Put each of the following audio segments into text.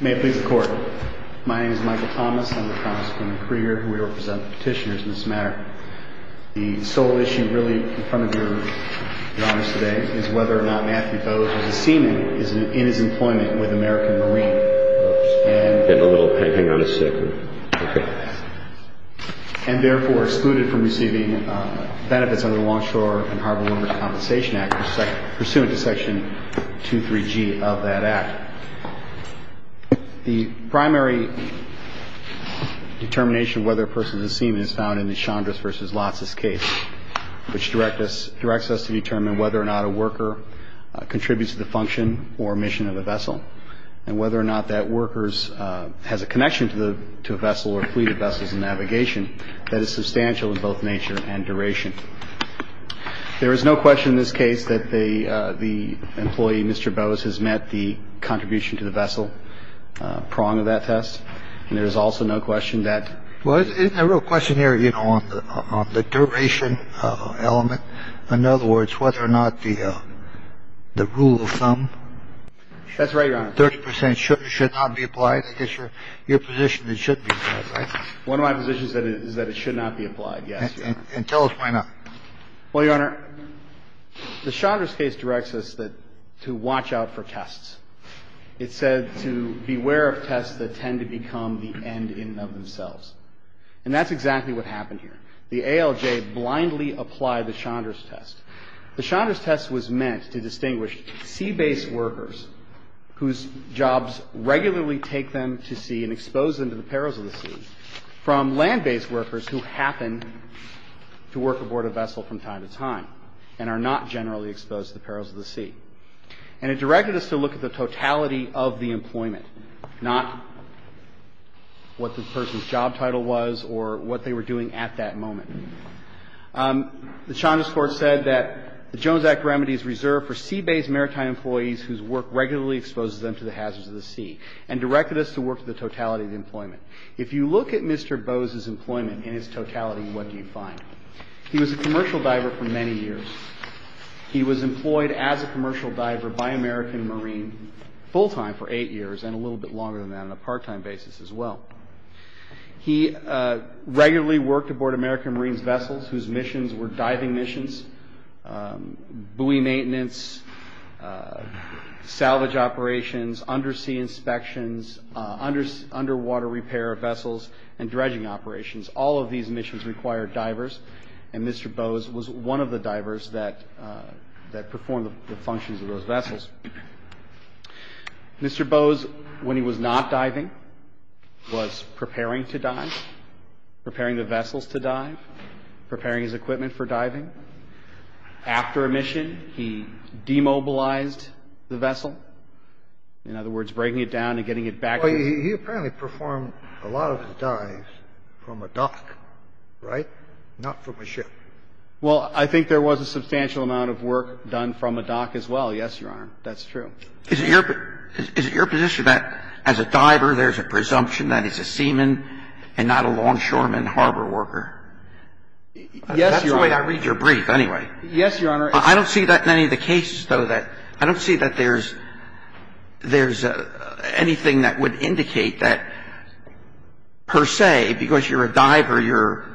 May it please the Court, my name is Michael Thomas, I'm the Congressman in the Courier who will represent the petitioners in this matter. The sole issue really in front of your Honors today is whether or not Matthew Bowes as a seaman is in his employment with American Marine. And therefore excluded from receiving benefits under the Longshore and Harbor Warmer Compensation Act pursuant to Section 23G of that Act. The primary determination whether a person is a seaman is found in the Chandra's v. Lotz's case. Which directs us to determine whether or not a worker contributes to the function or mission of a vessel. And whether or not that worker has a connection to a vessel or fleet of vessels in navigation that is substantial in both nature and duration. There is no question in this case that the the employee, Mr. Bowes, has met the contribution to the vessel prong of that test. And there is also no question that was a real question here, you know, on the duration element. In other words, whether or not the the rule of thumb. That's right. 30 percent should not be applied. I guess you're you're positioned. One of my positions is that it should not be applied. Yes. And tell us why not. Well, Your Honor, the Chandra's case directs us that to watch out for tests. It said to beware of tests that tend to become the end in themselves. And that's exactly what happened here. The ALJ blindly applied the Chandra's test. The Chandra's test was meant to distinguish sea-based workers, whose jobs regularly take them to sea and expose them to the perils of the sea, from land-based workers who happen to work aboard a vessel from time to time and are not generally exposed to the perils of the sea. And it directed us to look at the totality of the employment, not what the person's job title was or what they were doing at that moment. The Chandra's court said that the Jones Act remedies reserve for sea-based maritime employees whose work regularly exposes them to the hazards of the sea and directed us to work with the totality of the employment. If you look at Mr. Bose's employment in his totality, what do you find? He was a commercial diver for many years. He was employed as a commercial diver by American Marine full-time for eight years and a little bit longer than that on a part-time basis as well. He regularly worked aboard American Marine's vessels whose missions were diving missions, buoy maintenance, salvage operations, undersea inspections, underwater repair vessels, and dredging operations. All of these missions required divers, and Mr. Bose was one of the divers that performed the functions of those vessels. Mr. Bose, when he was not diving, was preparing to dive, preparing the vessels to dive, preparing his equipment for diving. After a mission, he demobilized the vessel, in other words, breaking it down and getting it back. He apparently performed a lot of his dives from a dock, right, not from a ship. Well, I think there was a substantial amount of work done from a dock as well, yes, Your Honor, that's true. Is it your position that as a diver there's a presumption that he's a seaman and not a longshoreman harbor worker? Yes, Your Honor. That's the way I read your brief anyway. Yes, Your Honor. I don't see that in any of the cases, though, that I don't see that there's anything that would indicate that per se, because you're a diver, you're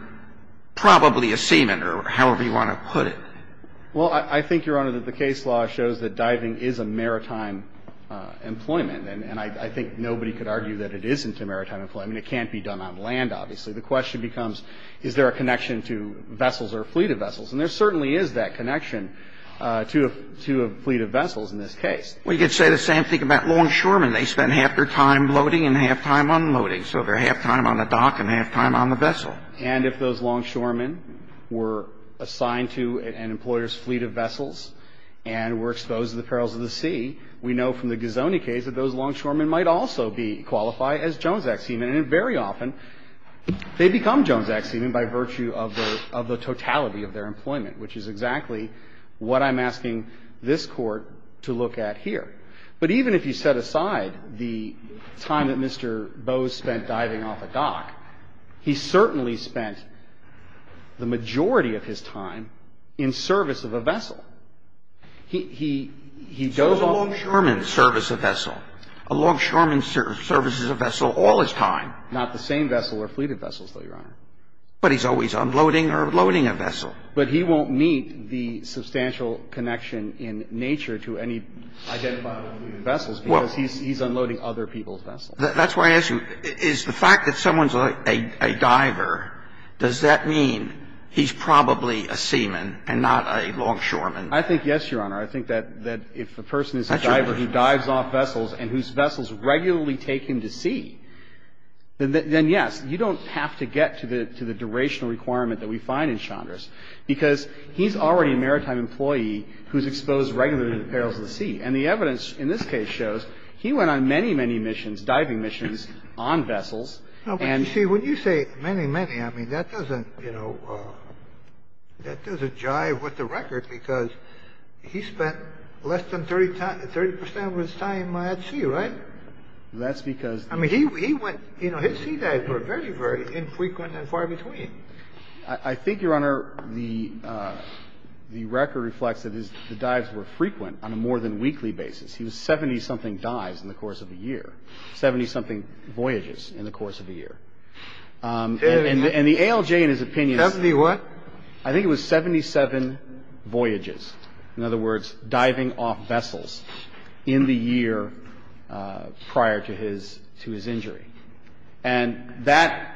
probably a seaman. Well, I think, Your Honor, that the case law shows that diving is a maritime employment, and I think nobody could argue that it isn't a maritime employment. I mean, it can't be done on land, obviously. The question becomes is there a connection to vessels or a fleet of vessels, and there certainly is that connection to a fleet of vessels in this case. Well, you could say the same thing about longshoremen. They spend half their time loading and half their time unloading, so they're half time on the dock and half time on the vessel. And if those longshoremen were assigned to an employer's fleet of vessels and were exposed to the perils of the sea, we know from the Gazoni case that those longshoremen might also be qualified as Jones Act seamen, and very often they become Jones Act seamen by virtue of the totality of their employment, which is exactly what I'm asking this Court to look at here. But even if you set aside the time that Mr. Bowes spent diving off a dock, he certainly spent the majority of his time in service of a vessel. He does all the time. So does a longshoreman service a vessel? A longshoreman services a vessel all his time. Not the same vessel or fleet of vessels, though, Your Honor. But he's always unloading or loading a vessel. But he won't meet the substantial connection in nature to any identifiable fleet of vessels because he's unloading other people's vessels. That's why I ask you, is the fact that someone's a diver, does that mean he's probably a seaman and not a longshoreman? I think yes, Your Honor. I think that if a person is a diver who dives off vessels and whose vessels regularly take him to sea, then yes, you don't have to get to the durational requirement that we find in Chandra's, because he's already a maritime employee who's exposed regularly to the perils of the sea. And the evidence in this case shows he went on many, many missions, diving missions, on vessels. No, but you see, when you say many, many, I mean, that doesn't, you know, that doesn't jive with the record because he spent less than 30 percent of his time at sea, right? That's because he went, you know, his sea dives were very, very infrequent and far between. I think, Your Honor, the record reflects that his dives were frequent on a more-than-weekly basis. He was 70-something dives in the course of a year, 70-something voyages in the course of a year. And the ALJ, in his opinion, is 71. I think it was 77 voyages. In other words, diving off vessels in the year prior to his injury. And that,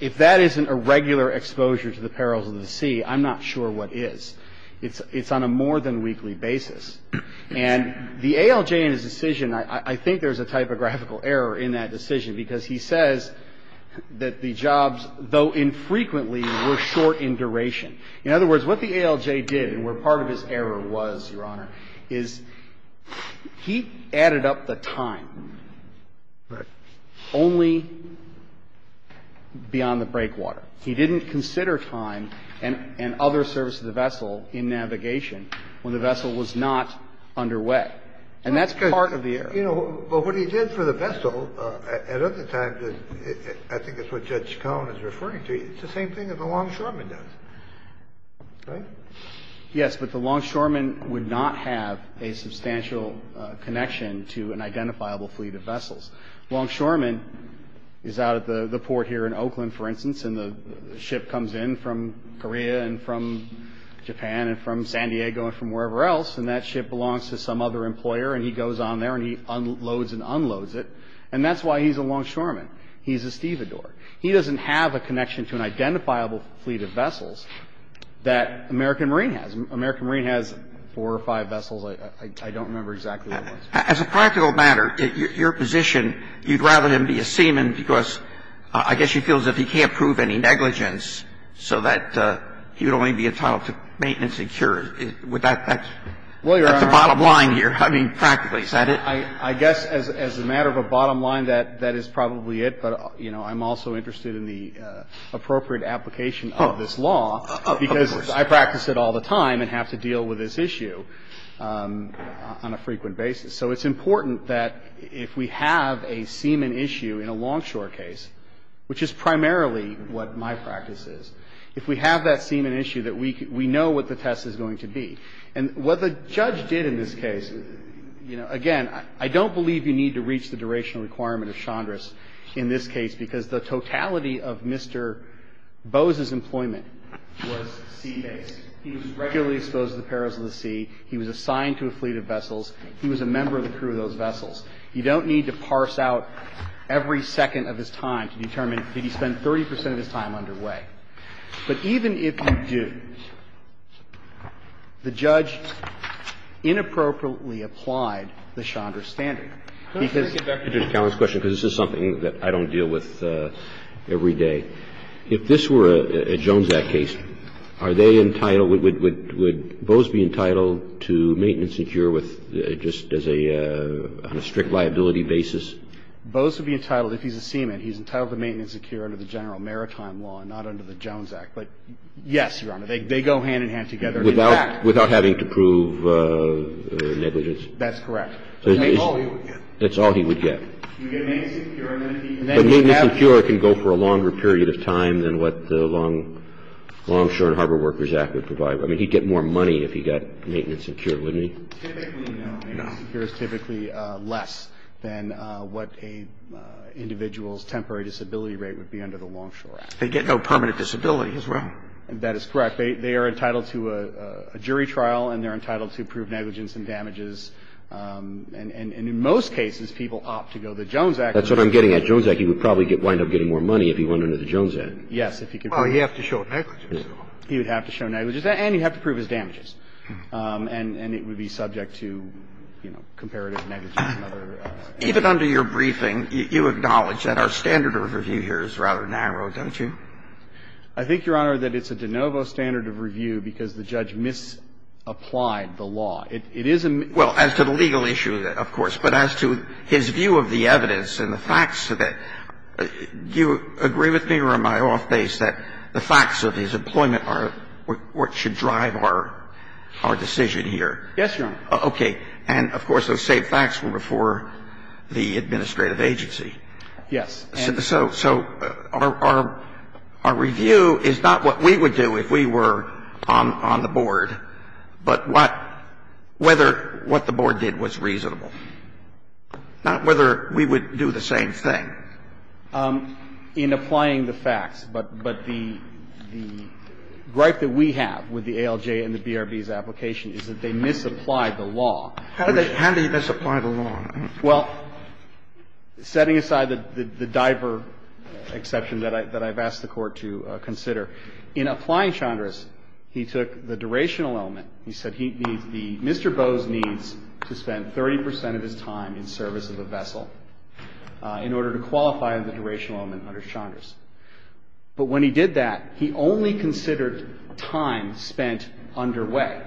if that isn't a regular exposure to the perils of the sea, I'm not sure what is. It's on a more-than-weekly basis. And the ALJ in his decision, I think there's a typographical error in that decision because he says that the jobs, though infrequently, were short in duration. In other words, what the ALJ did, and where part of his error was, Your Honor, is he added up the time. Only beyond the breakwater. He didn't consider time and other service to the vessel in navigation when the vessel was not underway. And that's part of the error. But what he did for the vessel, at other times, I think it's what Judge Cohen is referring to, it's the same thing that the longshoreman does. Right? Yes, but the longshoreman would not have a substantial connection to an identifiable fleet of vessels. Longshoreman is out at the port here in Oakland, for instance, and the ship comes in from Korea and from Japan and from San Diego and from wherever else, and that ship belongs to some other employer, and he goes on there and he unloads and unloads it. And that's why he's a longshoreman. He's a stevedore. He doesn't have a connection to an identifiable fleet of vessels that American Marine has. American Marine has four or five vessels. I don't remember exactly what it was. As a practical matter, your position, you'd rather him be a seaman because I guess he feels that he can't prove any negligence, so that he would only be entitled to maintenance and cure. Would that be the bottom line here? I mean, practically, is that it? I guess as a matter of a bottom line, that is probably it, but, you know, I'm also interested in the appropriate application of this law because I practice it all the time and have to deal with this issue on a frequent basis. So it's important that if we have a seaman issue in a longshore case, which is primarily what my practice is, if we have that seaman issue, that we know what the test is going to be. And what the judge did in this case, you know, again, I don't believe you need to reach the durational requirement of Chandra's in this case because the totality of Mr. Bose's employment was sea-based. He was regularly exposed to the perils of the sea. He was assigned to a fleet of vessels. He was a member of the crew of those vessels. You don't need to parse out every second of his time to determine did he spend 30 percent of his time underway. But even if you do, the judge inappropriately applied the Chandra standard. Because this is something that I don't deal with every day. If this were a Jones Act case, are they entitled, would Bose be entitled to maintenance and cure with, just as a, on a strict liability basis? Bose would be entitled, if he's a seaman, he's entitled to maintenance and cure under the general maritime law, not under the Jones Act. But, yes, Your Honor, they go hand in hand together. Without having to prove negligence? That's correct. That's all he would get. That's all he would get. He would get maintenance and cure. But maintenance and cure can go for a longer period of time than what the Longshore and Harbor Workers Act would provide. I mean, he'd get more money if he got maintenance and cure, wouldn't he? Typically, no. Maintenance and cure is typically less than what an individual's temporary disability rate would be under the Longshore Act. They get no permanent disability as well. That is correct. They are entitled to a jury trial, and they're entitled to prove negligence and damages. And in most cases, people opt to go the Jones Act. That's what I'm getting at. Jones Act, he would probably wind up getting more money if he went under the Jones Act. Yes, if he could prove it. Well, he'd have to show negligence. He would have to show negligence, and he'd have to prove his damages. And it would be subject to, you know, comparative negligence and other. Even under your briefing, you acknowledge that our standard of review here is rather narrow, don't you? I think, Your Honor, that it's a de novo standard of review because the judge misapplied the law. It is a mis- Well, as to the legal issue, of course. But as to his view of the evidence and the facts of it, do you agree with me or am I off base that the facts of his employment are what should drive our decision here? Yes, Your Honor. Okay. And, of course, those same facts were before the administrative agency. Yes. So our review is not what we would do if we were on the board, but what the board did was reasonable. Not whether we would do the same thing. In applying the facts, but the gripe that we have with the ALJ and the BRB's application is that they misapplied the law. How did they misapply the law? Well, setting aside the diver exception that I've asked the Court to consider, in applying Chandra's, he took the durational element. He said he needs the Mr. Bowes needs to spend 30 percent of his time in service of a vessel in order to qualify the durational element under Chandra's. But when he did that, he only considered time spent underway.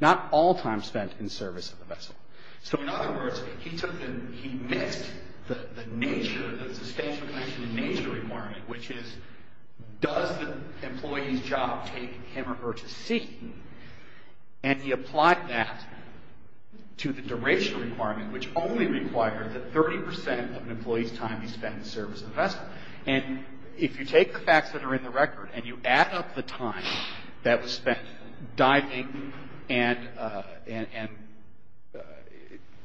Not all time spent in service of the vessel. So, in other words, he took the, he missed the nature, the substantial question in nature requirement, which is does the employee's job take him or her to sea? And he applied that to the durational requirement, which only required that 30 percent of an employee's time be spent in service of the vessel. And if you take the facts that are in the record and you add up the time that was spent diving and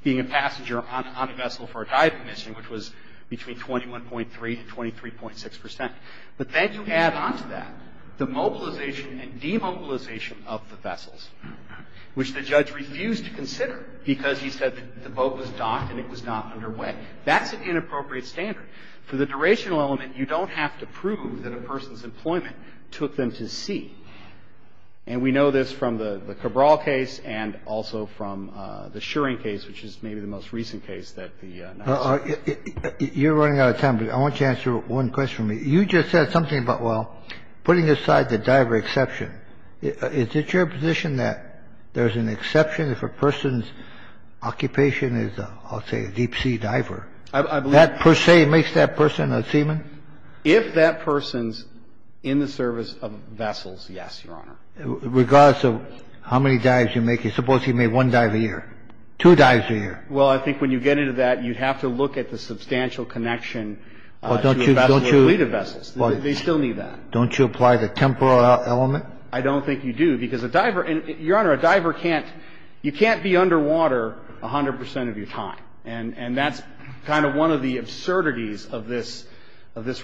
being a passenger on a vessel for a dive commission, which was between 21.3 and 23.6 percent, but then you add on to that the mobilization and demobilization of the vessels, which the judge refused to consider because he said the boat was docked and it was not underway. That's an inappropriate standard. For the durational element, you don't have to prove that a person's employment took them to sea. And we know this from the Cabral case and also from the Shuring case, which is maybe the most recent case that the NASA. You're running out of time, but I want you to answer one question for me. You just said something about, well, putting aside the diver exception. Is it your position that there's an exception if a person's occupation is, I'll say, a deep sea diver? I believe that. That per se makes that person a seaman? If that person's in the service of vessels, yes, Your Honor. Regardless of how many dives you make, suppose he made one dive a year, two dives a year. Well, I think when you get into that, you'd have to look at the substantial connection to a vessel or fleet of vessels. They still need that. Don't you apply the temporal element? I don't think you do, because a diver — Your Honor, a diver can't — you can't be underwater 100 percent of your time. And that's kind of one of the absurdities of this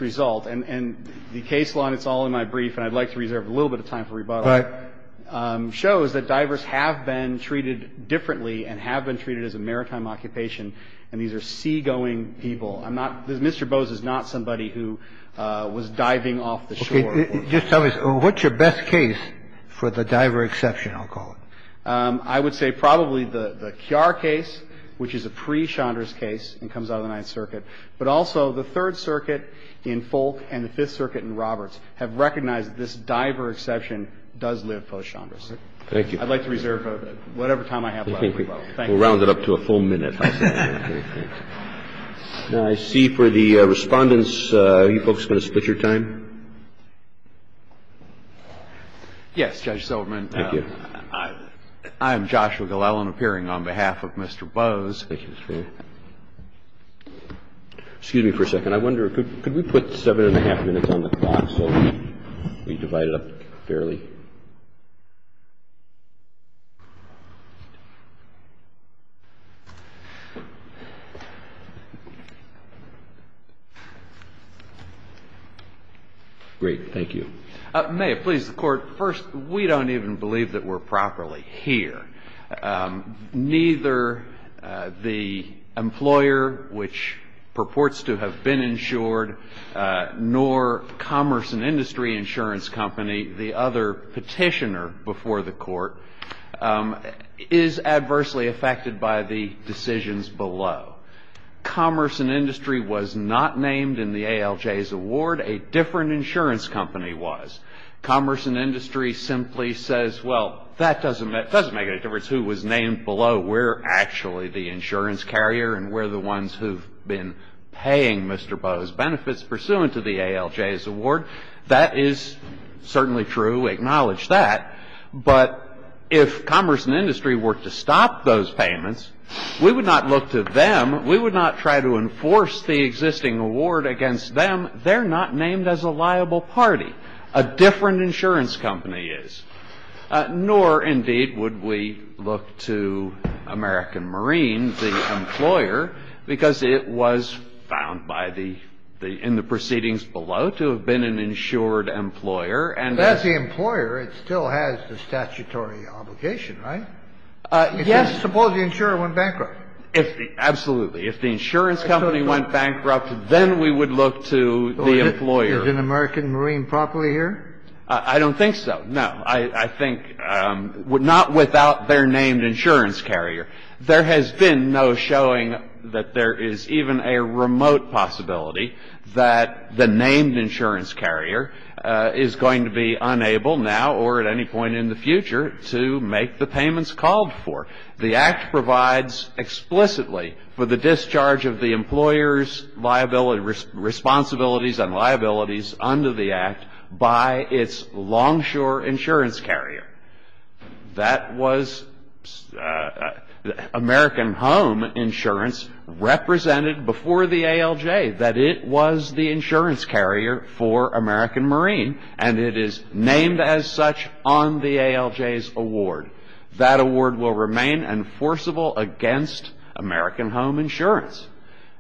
result. And the case law, and it's all in my brief, and I'd like to reserve a little bit of time for rebuttal, shows that divers have been treated differently and have been treated as a maritime occupation, and these are seagoing people. I'm not — Mr. Bose is not somebody who was diving off the shore. Okay. Just tell me, what's your best case for the diver exception, I'll call it? I would say probably the Kiar case, which is a pre-Chandrase case and comes out of the Ninth Circuit, but also the Third Circuit in Folk and the Fifth Circuit in Roberts have recognized this diver exception does live post-Chandrase. Thank you. I'd like to reserve whatever time I have left for rebuttal. Thank you. We'll round it up to a full minute. Now, I see for the Respondents, are you folks going to split your time? Yes, Judge Silverman. Thank you. I'm Joshua Glellen, appearing on behalf of Mr. Bose. Thank you, Mr. Fair. Excuse me for a second. I wonder, could we put seven and a half minutes on the clock so we divide it up fairly? Great. Thank you. May it please the Court. First, we don't even believe that we're properly here. Neither the employer, which purports to have been insured, nor Commerce and Industry Insurance Company, the other petitioner before the Court, is adversely affected by the decisions below. Commerce and Industry was not named in the ALJ's award. A different insurance company was. Commerce and Industry simply says, well, that doesn't make any difference who was named below. We're actually the insurance carrier, and we're the ones who've been paying Mr. Bose benefits pursuant to the ALJ's award. That is certainly true. Acknowledge that. But if Commerce and Industry were to stop those payments, we would not look to them. We would not try to enforce the existing award against them. They're not named as a liable party. A different insurance company is. Nor, indeed, would we look to American Marine, the employer, because it was found by the — in the proceedings below to have been an insured employer. But as the employer, it still has the statutory obligation, right? Yes. Suppose the insurer went bankrupt. Absolutely. If the insurance company went bankrupt, then we would look to the employer. Is an American Marine properly here? I don't think so. No. I think — not without their named insurance carrier. There has been no showing that there is even a remote possibility that the named insurance carrier is going to be unable now or at any point in the future to make the payments called for. The Act provides explicitly for the discharge of the employer's liability — responsibilities and liabilities under the Act by its longshore insurance carrier. That was American Home Insurance represented before the ALJ, that it was the insurance carrier for American Marine. And it is named as such on the ALJ's award. That award will remain enforceable against American Home Insurance.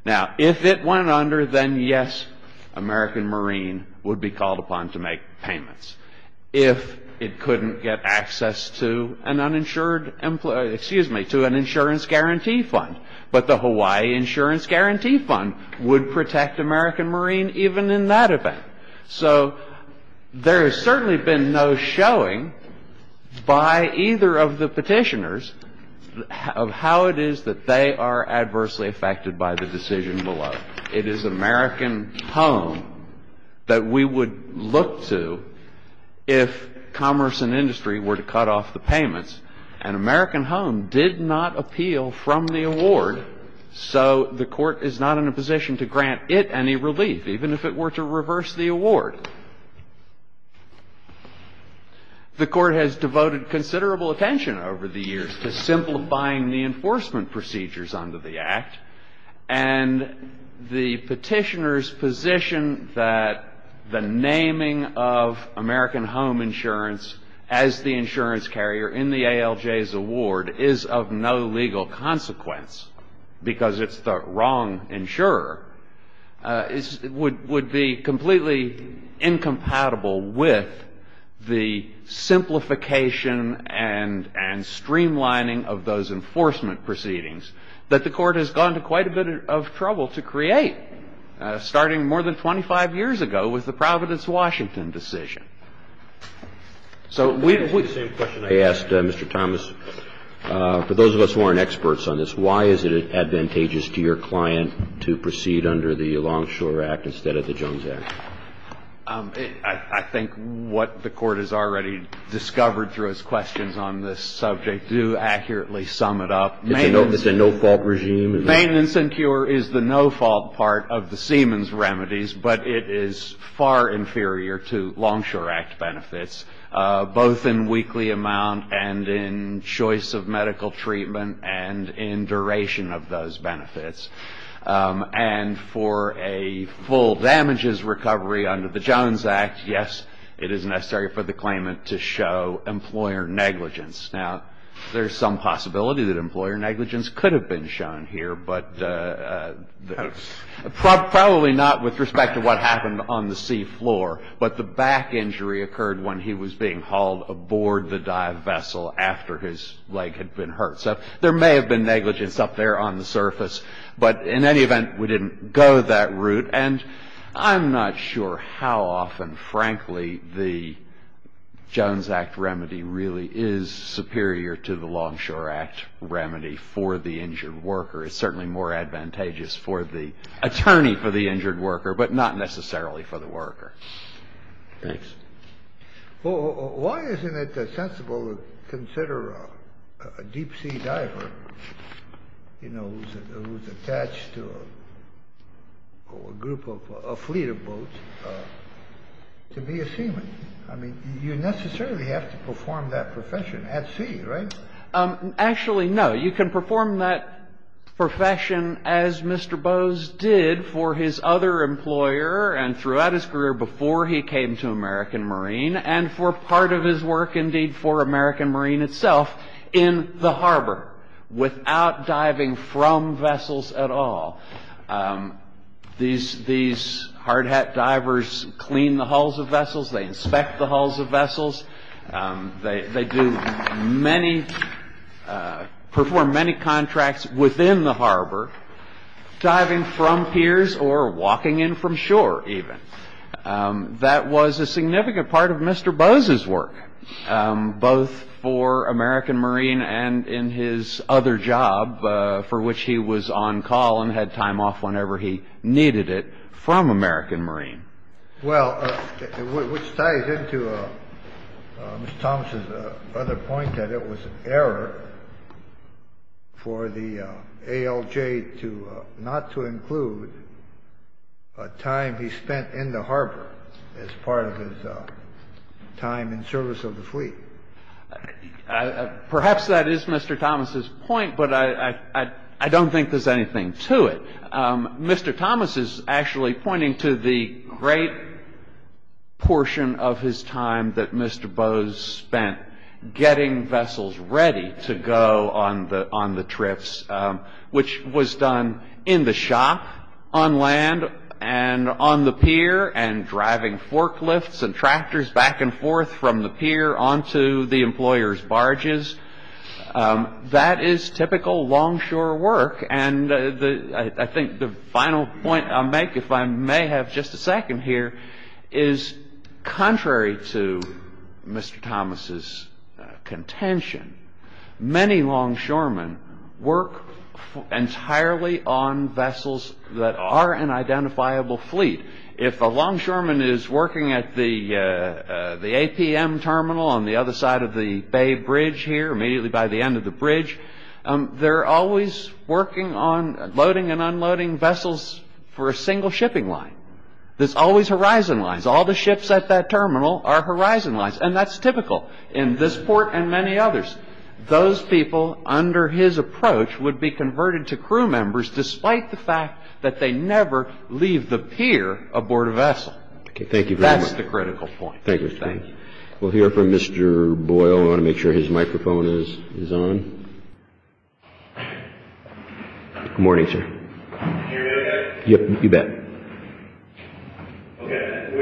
Now, if it went under, then yes, American Marine would be called upon to make payments. If it couldn't get access to an uninsured — excuse me, to an insurance guarantee fund. But the Hawaii Insurance Guarantee Fund would protect American Marine even in that event. So there has certainly been no showing by either of the Petitioners of how it is that they are adversely affected by the decision below. It is American Home that we would look to if commerce and industry were to cut off the payments. And American Home did not appeal from the award, so the Court is not in a position to grant it any relief, even if it were to reverse the award. The Court has devoted considerable attention over the years to simplifying the enforcement procedures under the Act. And the Petitioners' position that the naming of American Home Insurance as the insurance carrier in the ALJ's award is of no legal consequence because it's the wrong insurer would be completely incompatible with the simplification and streamlining of those enforcement proceedings that the Court has gone to quite a bit of trouble to create, starting more than 25 years ago with the Providence, Washington decision. So we asked Mr. Thomas, for those of us who aren't experts on this, why is it advantageous to your client to proceed under the Longshore Act instead of the Jones Act? I think what the Court has already discovered through its questions on this subject do accurately sum it up. It's a no-fault regime. Maintenance and cure is the no-fault part of the Siemens remedies, but it is far inferior to Longshore Act. benefits, both in weekly amount and in choice of medical treatment and in duration of those benefits. And for a full damages recovery under the Jones Act, yes, it is necessary for the claimant to show employer negligence. Now, there's some possibility that employer negligence could have been shown here, but probably not with respect to what happened on the seafloor, but the back injury occurred when he was being hauled aboard the dive vessel after his leg had been hurt. So there may have been negligence up there on the surface, but in any event, we didn't go that route. And I'm not sure how often, frankly, the Jones Act remedy really is superior to the Longshore Act remedy for the injured worker. It's certainly more advantageous for the attorney for the injured worker, but not necessarily for the worker. Thanks. Well, why isn't it sensible to consider a deep-sea diver, you know, who's attached to a group of a fleet of boats to be a seaman? I mean, you necessarily have to perform that profession at sea, right? Actually, no. You can perform that profession as Mr. Bowes did for his other employer and throughout his career before he came to American Marine and for part of his work, indeed, for American Marine itself in the harbor without diving from vessels at all. These hardhat divers clean the hulls of vessels. They inspect the hulls of vessels. They perform many contracts within the harbor, diving from piers or walking in from shore even. That was a significant part of Mr. Bowes's work, both for American Marine and in his other job, for which he was on call and had time off whenever he needed it, from American Marine. Well, which ties into Mr. Thomas's other point that it was an error for the ALJ to not to include a time he spent in the harbor as part of his time in service of the fleet. Perhaps that is Mr. Thomas's point, but I don't think there's anything to it. Mr. Thomas is actually pointing to the great portion of his time that Mr. Bowes spent getting vessels ready to go on the trips, which was done in the shop on land and on the pier and driving forklifts and tractors back and forth from the pier onto the employer's barges. That is typical longshore work. I think the final point I'll make, if I may have just a second here, is contrary to Mr. Thomas's contention, many longshoremen work entirely on vessels that are an identifiable fleet. If a longshoreman is working at the APM terminal on the other side of the bay bridge here, immediately by the end of the bridge, they're always working on loading and unloading vessels for a single shipping line. There's always horizon lines. All the ships at that terminal are horizon lines, and that's typical in this port and many others. Those people, under his approach, would be converted to crew members despite the fact that they never leave the pier aboard a vessel. Thank you very much. That's the critical point. Thank you. We'll hear from Mr. Boyle. I want to make sure his microphone is on. Good morning, sir. Can you hear me okay? Yes, you bet. We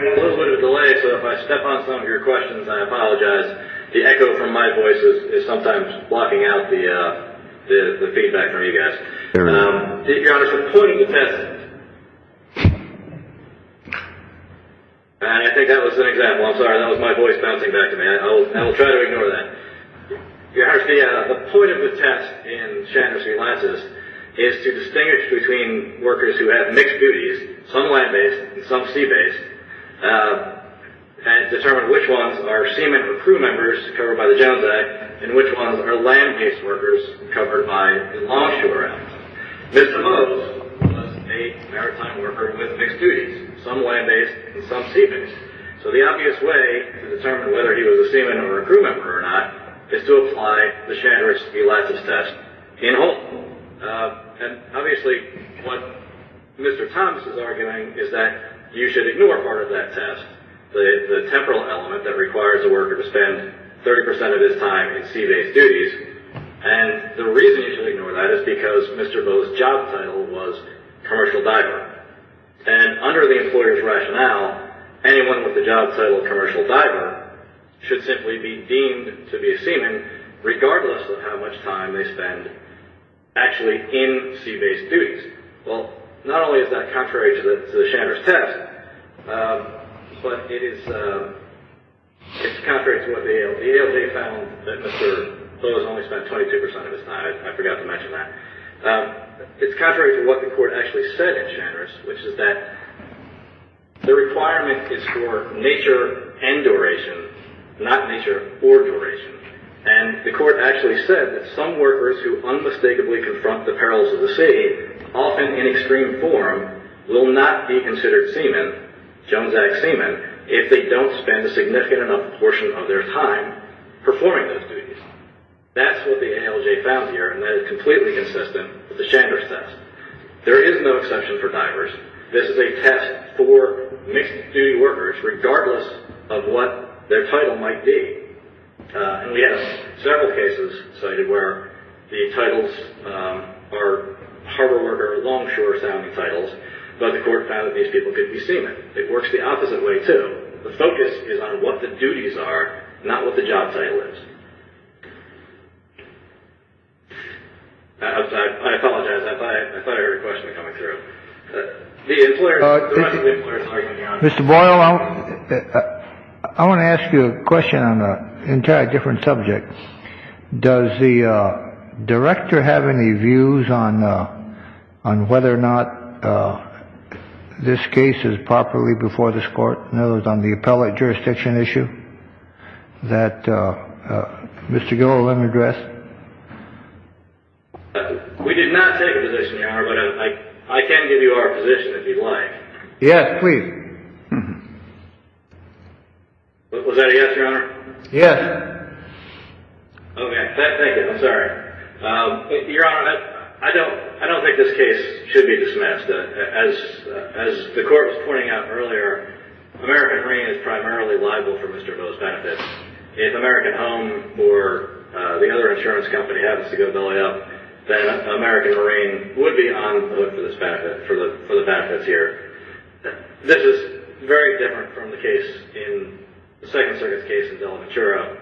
have a little bit of a delay, so if I step on some of your questions, I apologize. The echo from my voice is sometimes blocking out the feedback from you guys. Your Honor, for pointing the test, and I think that was an example. I'm sorry. That was my voice bouncing back to me. I will try to ignore that. Your Honor, the point of the test in Shatner Sea Lances is to distinguish between workers who have mixed duties, some land-based and some sea-based, and determine which ones are seamen or crew members, covered by the Jones Act, and which ones are land-based workers, covered by the Longshore Act. Mr. Mose was a maritime worker with mixed duties, some land-based and some sea-based, so the obvious way to determine whether he was a seaman or a crew member or not is to apply the Shatner Sea Lances test in whole. Obviously, what Mr. Thomas is arguing is that you should ignore part of that test, the temporal element that requires a worker to spend 30 percent of his time in sea-based duties, and the reason you should ignore that is because Mr. Mose's job title was commercial diver, and under the employer's rationale, anyone with the job title commercial diver should simply be deemed to be a seaman, regardless of how much time they spend actually in sea-based duties. Well, not only is that contrary to the Shatner's test, but it is contrary to what the ALJ found that Mr. Mose only spent 22 percent of his time. I forgot to mention that. It's contrary to what the court actually said at Shatner's, which is that the requirement is for nature and duration, not nature or duration, and the court actually said that some workers who unmistakably confront the perils of the sea, often in extreme form, will not be considered seaman, Jones Act seaman, if they don't spend a significant enough portion of their time performing those duties. That's what the ALJ found here, and that is completely consistent with the Shatner's test. There is no exception for divers. This is a test for mixed-duty workers, regardless of what their title might be. And we have several cases cited where the titles are harbor-worker, longshore-sounding titles, but the court found that these people could be seaman. It works the opposite way, too. The focus is on what the duties are, not what the job title is. I apologize. I thought I heard a question coming through. The employer is arguing the opposite. Mr. Boyle, I want to ask you a question on an entirely different subject. Does the director have any views on whether or not this case is properly before this court, in other words, on the appellate jurisdiction issue that Mr. Gilliland addressed? We did not take a position, Your Honor, but I can give you our position if you'd like. Yes, please. Was that a yes, Your Honor? Yes. Okay. Thank you. I'm sorry. Your Honor, I don't think this case should be dismissed. As the court was pointing out earlier, American Marine is primarily liable for Mr. Bo's benefit. If American Home or the other insurance company happens to go belly up, then American Marine would be on the hook for the benefits here. This is very different from the case in the Second Circuit's case in Delmatura,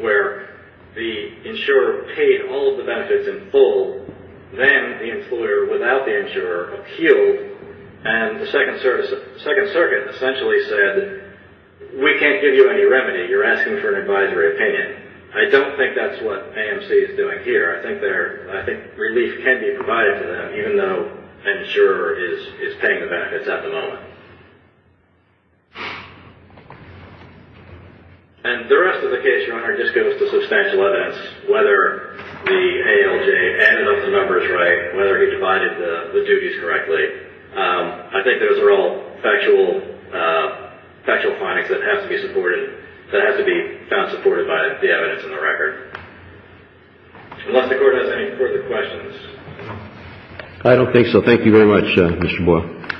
where the insurer paid all of the benefits in full. Then the employer, without the insurer, appealed, and the Second Circuit essentially said, we can't give you any remedy. You're asking for an advisory opinion. I don't think that's what AMC is doing here. I think relief can be provided to them, even though the insurer is paying the benefits at the moment. The rest of the case, Your Honor, just goes to substantial evidence. Whether the ALJ ended up with the numbers right, whether he divided the duties correctly, I think those are all factual findings that have to be supported, provided the evidence in the record. Unless the Court has any further questions. I don't think so. Thank you very much, Mr. Boyle. Thank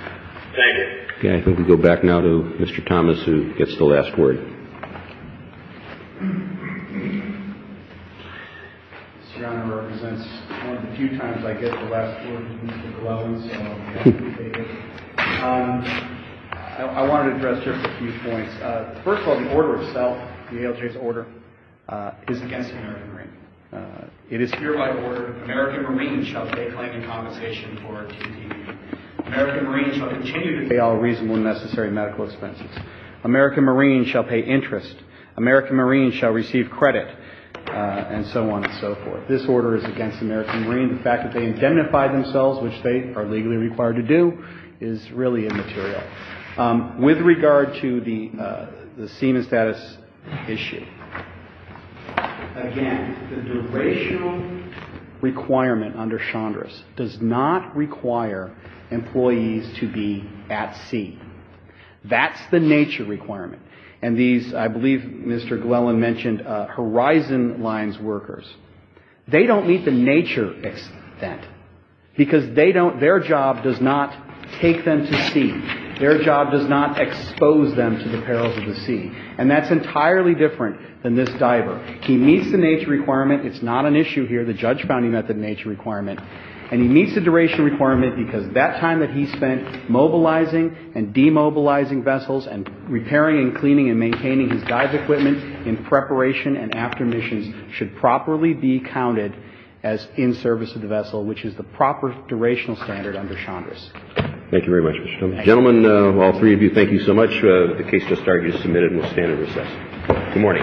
you. Okay. I think we go back now to Mr. Thomas, who gets the last word. Mr. Your Honor, it represents one of the few times I get the last word from Mr. Glowen, so I'll give it to David. I want to address just a few points. First of all, the order itself, the ALJ's order, is against the American Marine. It is hereby ordered, American Marines shall pay claim in compensation for TPP. American Marines shall continue to pay all reasonable and necessary medical expenses. American Marines shall pay interest. American Marines shall receive credit, and so on and so forth. This order is against the American Marine. The fact that they indemnify themselves, which they are legally required to do, is really immaterial. With regard to the SEMA status issue, again, the durational requirement under Chandra's does not require employees to be at sea. That's the nature requirement. And these, I believe Mr. Glowen mentioned, Horizon Lines workers, they don't meet the nature extent, because their job does not take them to sea. Their job does not expose them to the perils of the sea. And that's entirely different than this diver. He meets the nature requirement. It's not an issue here, the judge found him at the nature requirement. And he meets the duration requirement because that time that he spent mobilizing and demobilizing vessels and repairing and cleaning and maintaining his dive equipment in preparation and after missions should properly be counted as in service of the vessel, which is the proper durational standard under Chandra's. Thank you very much, Mr. Tillman. Gentlemen, all three of you, thank you so much. The case does start. You're submitted and will stand in recess. Good morning. All rise.